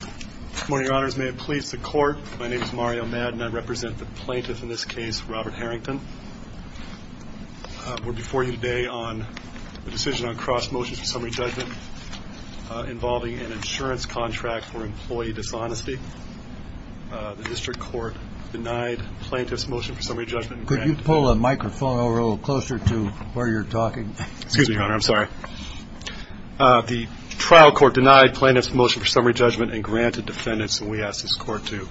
Good morning, Your Honors. May it please the Court, my name is Mario Madden. I represent the plaintiff in this case, Robert Harrington. We're before you today on the decision on cross-motions for summary judgment involving an insurance contract for employee dishonesty. The District Court denied plaintiff's motion for summary judgment. Could you pull a microphone over a little closer to where you're talking? Excuse me, Your Honor, I'm sorry. The trial court denied plaintiff's motion for summary judgment and granted defendants, and we ask this Court to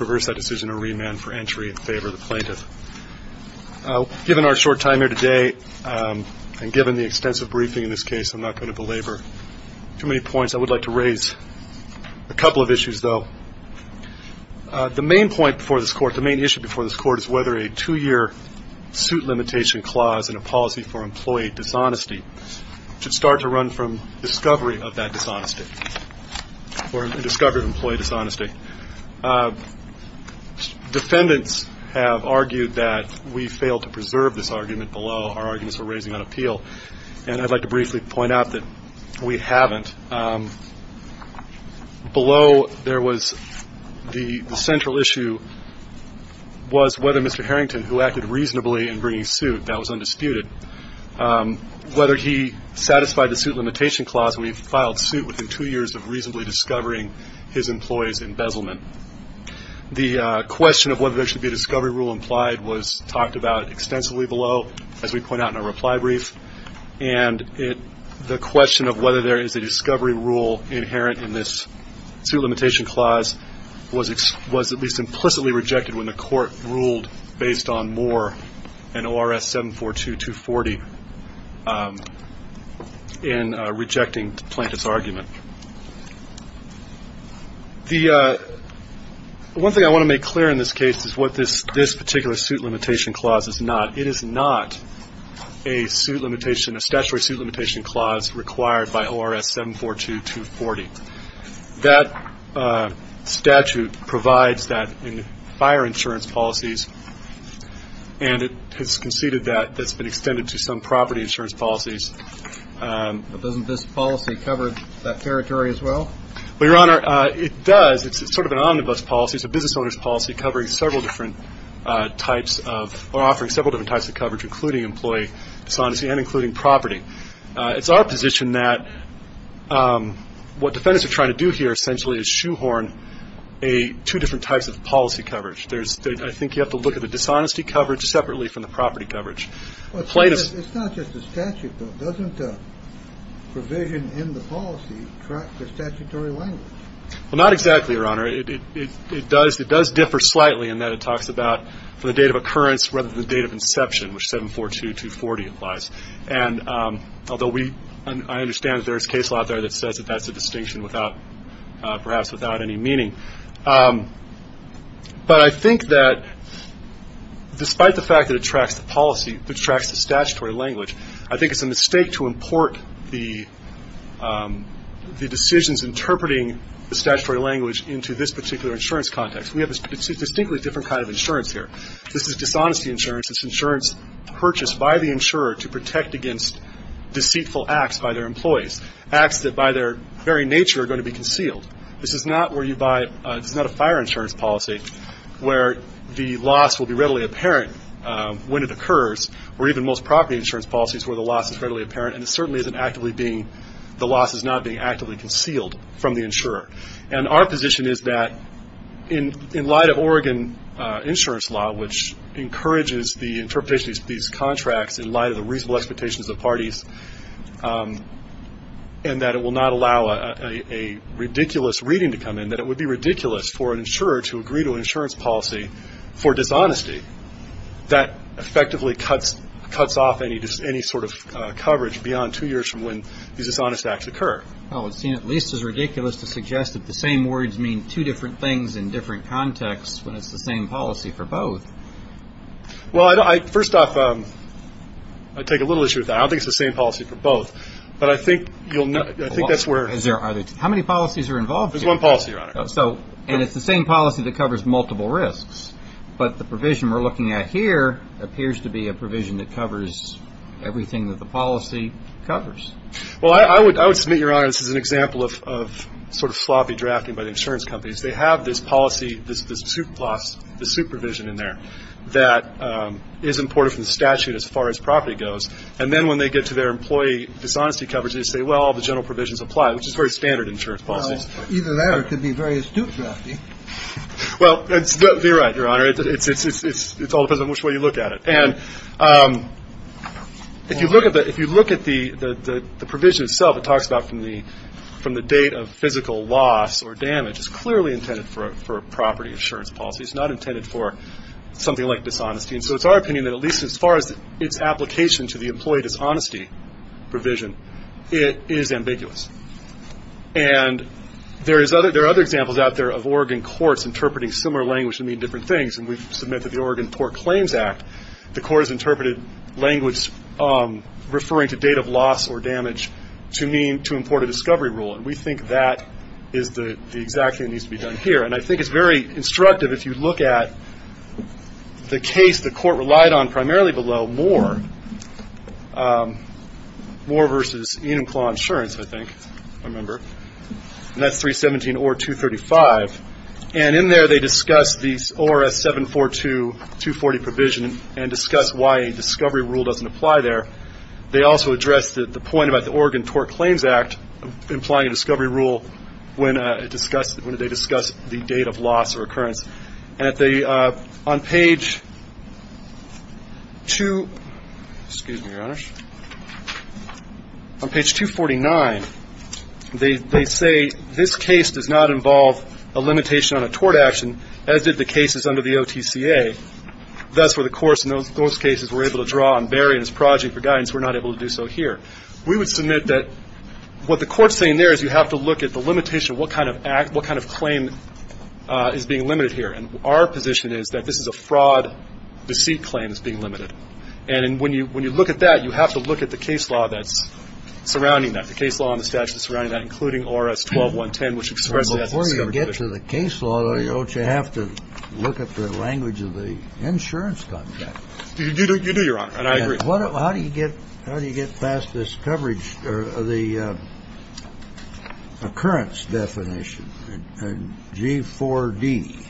reverse that decision or remand for entry in favor of the plaintiff. Given our short time here today, and given the extensive briefing in this case, I'm not going to belabor too many points. I would like to raise a couple of issues, though. The main point before this Court, the main issue before this Court, is whether a two-year suit limitation clause in a policy for employee dishonesty should start to run from discovery of that dishonesty or discovery of employee dishonesty. Defendants have argued that we failed to preserve this argument below our arguments we're raising on appeal, and I'd like to briefly point out that we haven't. Below there was the central issue was whether Mr. Harrington, who acted reasonably in bringing suit, that was undisputed, whether he satisfied the suit limitation clause when he filed suit within two years of reasonably discovering his employee's embezzlement. The question of whether there should be a discovery rule implied was talked about extensively below, as we point out in our reply brief, and the question of whether there is a discovery rule inherent in this suit limitation clause was at least implicitly rejected when the Court ruled based on Moore and ORS 742-240 in rejecting the plaintiff's argument. One thing I want to make clear in this case is what this particular suit limitation clause is not. It is not a suit limitation, a statutory suit limitation clause required by ORS 742-240. That statute provides that in fire insurance policies, and it has conceded that that's been extended to some property insurance policies. But doesn't this policy cover that territory as well? Well, Your Honor, it does. It's sort of an omnibus policy. It's a business owner's policy covering several different types of or offering several different types of coverage, including employee dishonesty and including property. It's our position that what defendants are trying to do here essentially is shoehorn two different types of policy coverage. I think you have to look at the dishonesty coverage separately from the property coverage. It's not just the statute, though. Doesn't provision in the policy track the statutory language? Well, not exactly, Your Honor. It does differ slightly in that it talks about the date of occurrence rather than the date of inception, which 742-240 applies. And although we – I understand that there is case law out there that says that that's a distinction without – perhaps without any meaning. But I think that despite the fact that it tracks the policy, it tracks the statutory language, I think it's a mistake to import the decisions interpreting the statutory language into this particular insurance context. We have a distinctly different kind of insurance here. This is dishonesty insurance. It's insurance purchased by the insurer to protect against deceitful acts by their employees, This is not where you buy – this is not a fire insurance policy where the loss will be readily apparent when it occurs, or even most property insurance policies where the loss is readily apparent, and it certainly isn't actively being – the loss is not being actively concealed from the insurer. And our position is that in light of Oregon insurance law, which encourages the interpretation of these contracts in light of the reasonable expectations of the parties, and that it will not allow a ridiculous reading to come in, that it would be ridiculous for an insurer to agree to an insurance policy for dishonesty that effectively cuts off any sort of coverage beyond two years from when these dishonest acts occur. Well, it would seem at least as ridiculous to suggest that the same words mean two different things in different contexts when it's the same policy for both. Well, first off, I take a little issue with that. I don't think it's the same policy for both, but I think that's where – How many policies are involved here? There's one policy, Your Honor. And it's the same policy that covers multiple risks, but the provision we're looking at here appears to be a provision that covers everything that the policy covers. Well, I would submit, Your Honor, this is an example of sort of sloppy drafting by the insurance companies. They have this policy, this supervision in there that is important from the statute as far as property goes, and then when they get to their employee dishonesty coverage, they say, well, the general provisions apply, which is very standard insurance policies. Well, either that or it could be very astute drafting. Well, they're right, Your Honor. It all depends on which way you look at it. And if you look at the provision itself, it talks about from the date of physical loss or damage. It's clearly intended for a property insurance policy. It's not intended for something like dishonesty. And so it's our opinion that at least as far as its application to the employee dishonesty provision, it is ambiguous. And there are other examples out there of Oregon courts interpreting similar language to mean different things, and we've submitted the Oregon TORC Claims Act. The courts interpreted language referring to date of loss or damage to mean to import a discovery rule, and we think that is the exact thing that needs to be done here. And I think it's very instructive if you look at the case the court relied on primarily below Moore, Moore v. Enumclaw Insurance, I think, I remember, and that's 317 OR 235. And in there they discuss the ORS 742-240 provision and discuss why a discovery rule doesn't apply there. They also address the point about the Oregon TORC Claims Act implying a discovery rule when they discuss the date of loss or occurrence. And on page 249, they say, this case does not involve a limitation on a tort action as did the cases under the OTCA. And that's where the courts, in those cases, were able to draw and vary in this project for guidance. We're not able to do so here. We would submit that what the court's saying there is you have to look at the limitation of what kind of act, what kind of claim is being limited here. And our position is that this is a fraud, deceit claim that's being limited. And when you look at that, you have to look at the case law that's surrounding that, the case law and the statute that's surrounding that, including ORS 12110, which expresses Before you get to the case law, though, you have to look at the language of the insurance contract. You do, Your Honor. And I agree. How do you get past this coverage of the occurrence definition? G4D,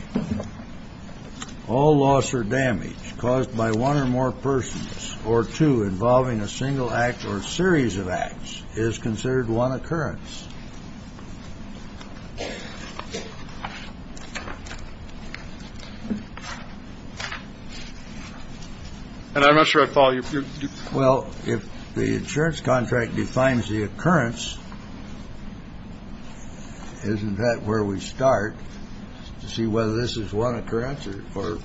all loss or damage caused by one or more persons or two involving a single act or a series of acts is considered one occurrence. And I'm not sure I follow you. Well, if the insurance contract defines the occurrence, isn't that where we start, to see whether this is one occurrence or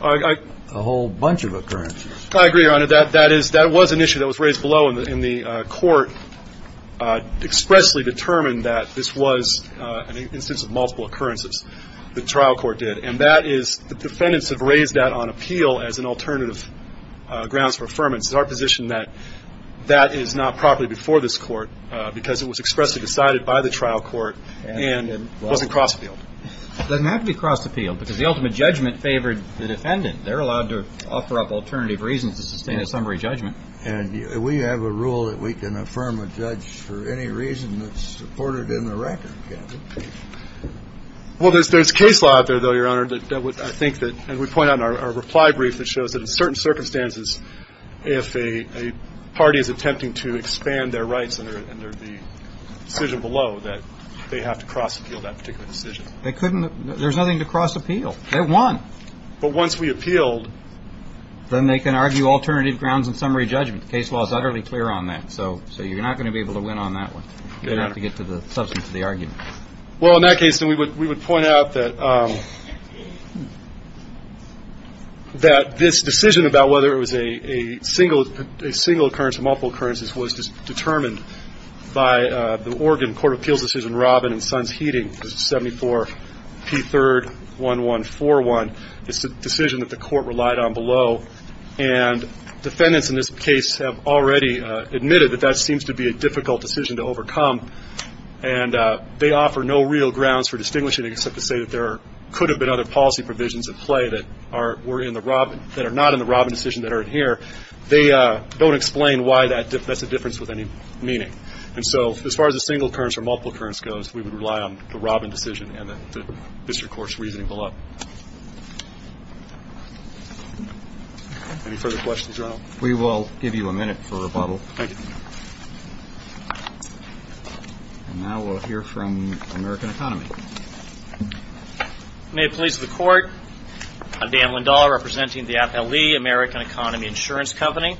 a whole bunch of occurrences? I agree, Your Honor. That was an issue that was raised below, and the Court expressly determined that this was an instance of multiple occurrences. The trial court did. And the defendants have raised that on appeal as an alternative grounds for affirmance. It's our position that that is not properly before this Court because it was expressly decided by the trial court and wasn't cross-appealed. It doesn't have to be cross-appealed because the ultimate judgment favored the defendant. They're allowed to offer up alternative reasons to sustain a summary judgment. And we have a rule that we can affirm a judge for any reason that's supported in the record. Well, there's case law out there, though, Your Honor, that I think that, as we point out in our reply brief, that shows that in certain circumstances, if a party is attempting to expand their rights under the decision below, that they have to cross-appeal that particular decision. They couldn't. There's nothing to cross-appeal. They won. But once we appealed. Then they can argue alternative grounds in summary judgment. Case law is utterly clear on that. So you're not going to be able to win on that one. You're going to have to get to the substance of the argument. Well, in that case, then we would point out that this decision about whether it was a single occurrence or multiple occurrences was determined by the Oregon Court of Appeals decision, 74P31141. It's a decision that the court relied on below. And defendants in this case have already admitted that that seems to be a difficult decision to overcome. And they offer no real grounds for distinguishing it except to say that there could have been other policy provisions at play that are not in the Robin decision that are in here. They don't explain why that's a difference with any meaning. And so as far as a single occurrence or multiple occurrence goes, we would rely on the Robin decision and the district court's reasoning below. Any further questions, Your Honor? We will give you a minute for rebuttal. Thank you. And now we'll hear from American Economy. May it please the Court. I'm Dan Lindahl, representing the Appellee American Economy Insurance Company.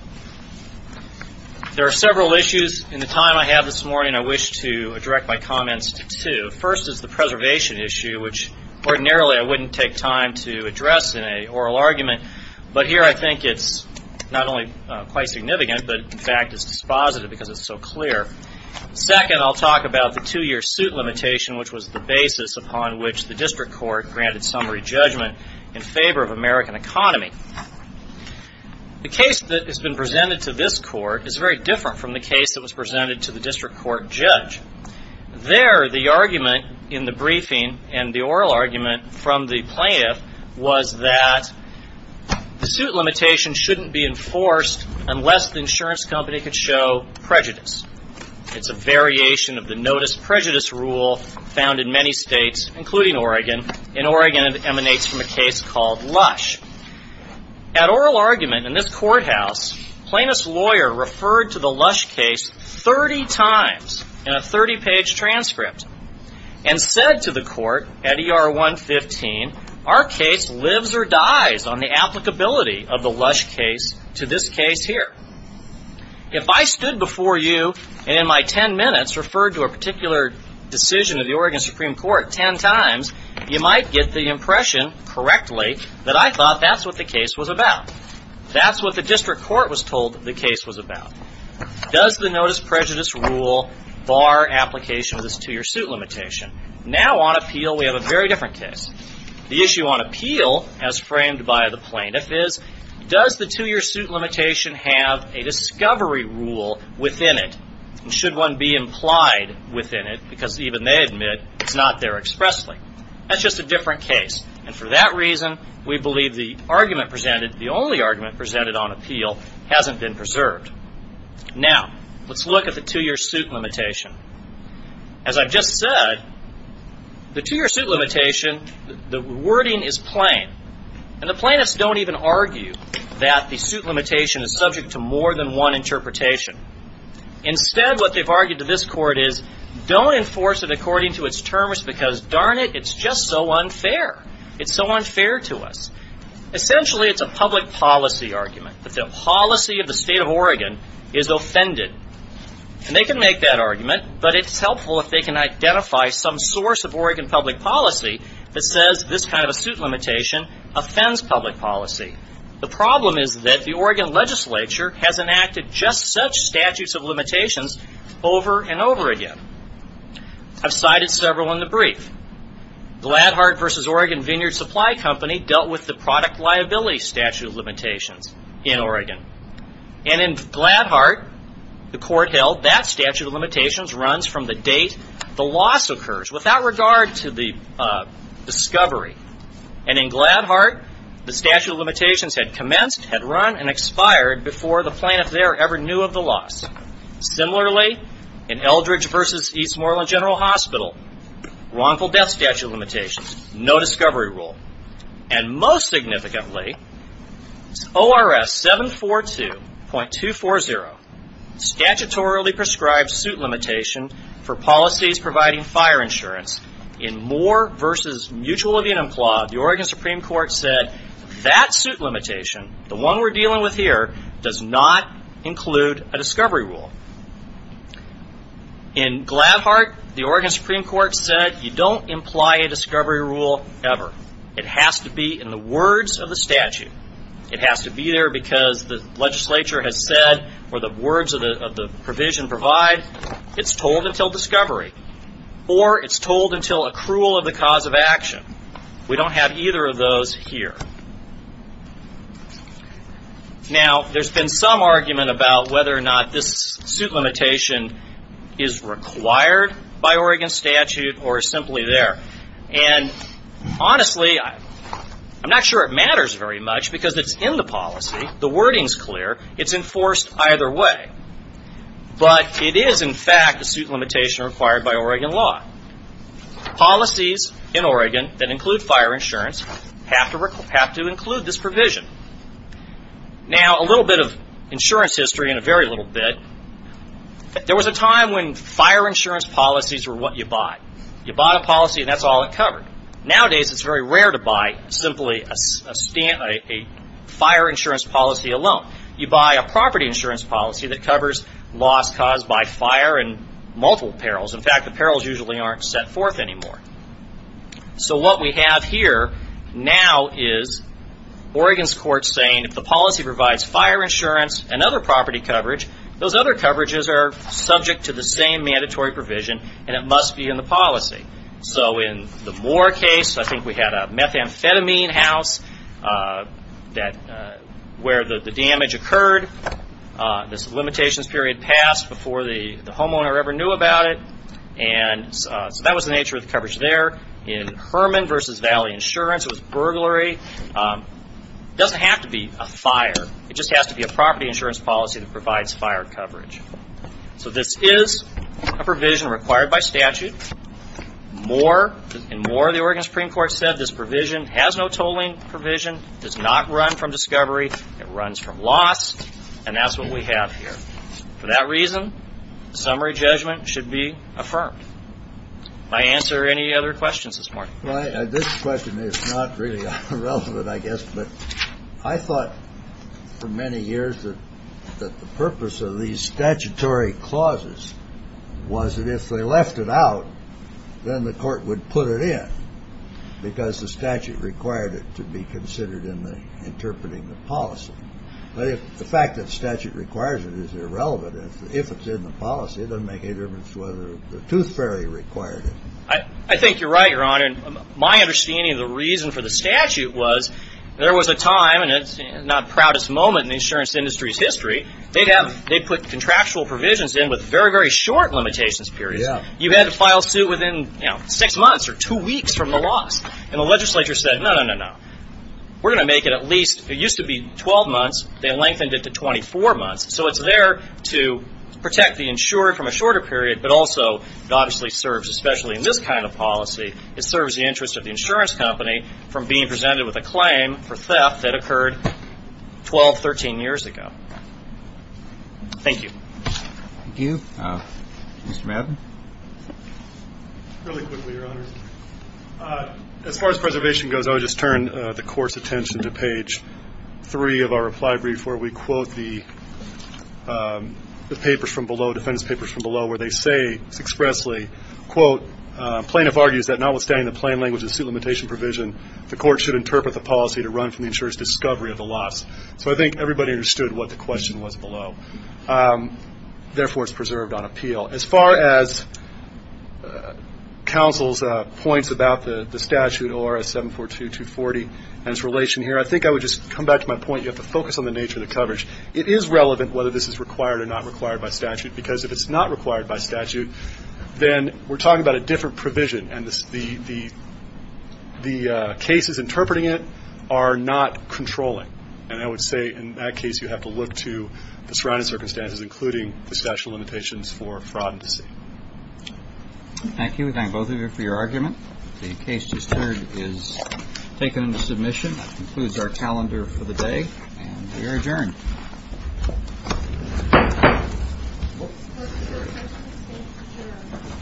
There are several issues in the time I have this morning I wish to direct my comments to. First is the preservation issue, which ordinarily I wouldn't take time to address in an oral argument. But here I think it's not only quite significant, but in fact it's dispositive because it's so clear. Second, I'll talk about the two-year suit limitation, which was the basis upon which the district court granted summary judgment in favor of American Economy. The case that has been presented to this Court is very different from the case that was presented to the district court judge. There, the argument in the briefing and the oral argument from the plaintiff was that the suit limitation shouldn't be enforced unless the insurance company could show prejudice. It's a variation of the notice prejudice rule found in many states, including Oregon. In Oregon, it emanates from a case called Lush. At oral argument in this courthouse, plaintiff's lawyer referred to the Lush case 30 times in a 30-page transcript and said to the Court at ER 115, our case lives or dies on the applicability of the Lush case to this case here. If I stood before you and in my 10 minutes referred to a particular decision of the Oregon Supreme Court 10 times, you might get the impression correctly that I thought that's what the case was about. That's what the district court was told the case was about. Does the notice prejudice rule bar application of this two-year suit limitation? Now on appeal, we have a very different case. The issue on appeal, as framed by the plaintiff, is does the two-year suit limitation have a discovery rule within it? And should one be implied within it because even they admit it's not there expressly? That's just a different case. And for that reason, we believe the argument presented, the only argument presented on appeal, hasn't been preserved. Now, let's look at the two-year suit limitation. As I've just said, the two-year suit limitation, the wording is plain. And the plaintiffs don't even argue that the suit limitation is subject to more than one interpretation. Instead, what they've argued to this court is don't enforce it according to its terms because darn it, it's just so unfair. It's so unfair to us. Essentially, it's a public policy argument that the policy of the state of Oregon is offended. And they can make that argument, but it's helpful if they can identify some source of Oregon public policy that says this kind of a suit limitation offends public policy. The problem is that the Oregon legislature has enacted just such statutes of limitations over and over again. I've cited several in the brief. Gladhart v. Oregon Vineyard Supply Company dealt with the product liability statute of limitations in Oregon. And in Gladhart, the court held that statute of limitations runs from the date the loss occurs without regard to the discovery. And in Gladhart, the statute of limitations had commenced, had run, and expired before the plaintiff there ever knew of the loss. Similarly, in Eldridge v. Eastmoreland General Hospital, wrongful death statute of limitations, no discovery rule. And most significantly, ORS 742.240, statutorily prescribed suit limitation for policies providing fire insurance in Moore v. Mutual Evenum Clause, the Oregon Supreme Court said, that suit limitation, the one we're dealing with here, does not include a discovery rule. In Gladhart, the Oregon Supreme Court said, you don't imply a discovery rule ever. It has to be in the words of the statute. It has to be there because the legislature has said, or the words of the provision provide, it's told until discovery, or it's told until accrual of the cause of action. We don't have either of those here. Now, there's been some argument about whether or not this suit limitation is required by Oregon statute or simply there. And honestly, I'm not sure it matters very much because it's in the policy. The wording's clear. It's enforced either way. But it is, in fact, a suit limitation required by Oregon law. Policies in Oregon that include fire insurance have to include this provision. Now, a little bit of insurance history and a very little bit. There was a time when fire insurance policies were what you bought. You bought a policy and that's all it covered. Nowadays, it's very rare to buy simply a fire insurance policy alone. You buy a property insurance policy that covers loss caused by fire and multiple perils. In fact, the perils usually aren't set forth anymore. So what we have here now is Oregon's court saying if the policy provides fire insurance and other property coverage, those other coverages are subject to the same mandatory provision and it must be in the policy. So in the Moore case, I think we had a methamphetamine house where the damage occurred. This limitations period passed before the homeowner ever knew about it. So that was the nature of the coverage there. In Herman v. Valley Insurance, it was burglary. It doesn't have to be a fire. It just has to be a property insurance policy that provides fire coverage. So this is a provision required by statute. In Moore, the Oregon Supreme Court said this provision has no tolling provision. It does not run from discovery. It runs from loss and that's what we have here. For that reason, summary judgment should be affirmed. My answer or any other questions this morning? This question is not really relevant, I guess. But I thought for many years that the purpose of these statutory clauses was that if they left it out, then the court would put it in because the statute required it to be considered in interpreting the policy. The fact that statute requires it is irrelevant. If it's in the policy, it doesn't make any difference whether the tooth fairy required it. I think you're right, Your Honor. My understanding of the reason for the statute was there was a time, and it's not the proudest moment in the insurance industry's history, they put contractual provisions in with very, very short limitations periods. You had to file suit within six months or two weeks from the loss. And the legislature said, no, no, no, no. We're going to make it at least – it used to be 12 months. They lengthened it to 24 months. So it's there to protect the insurer from a shorter period, but also it obviously serves, especially in this kind of policy, it serves the interest of the insurance company from being presented with a claim for theft that occurred 12, 13 years ago. Thank you. Thank you. Mr. Madden. Really quickly, Your Honor, as far as preservation goes, I would just turn the Court's attention to page 3 of our reply brief where we quote the papers from below, defense papers from below, where they say expressly, quote, plaintiff argues that notwithstanding the plain language of the suit limitation provision, the Court should interpret the policy to run from the insurer's discovery of the loss. So I think everybody understood what the question was below. Therefore, it's preserved on appeal. As far as counsel's points about the statute ORS 742-240 and its relation here, I think I would just come back to my point, you have to focus on the nature of the coverage. It is relevant whether this is required or not required by statute, because if it's not required by statute, then we're talking about a different provision, and the cases interpreting it are not controlling. And I would say in that case you have to look to the surrounding circumstances, including the statute limitations for fraud and deceit. Thank you. We thank both of you for your argument. The case just heard is taken into submission. That concludes our calendar for the day, and we are adjourned.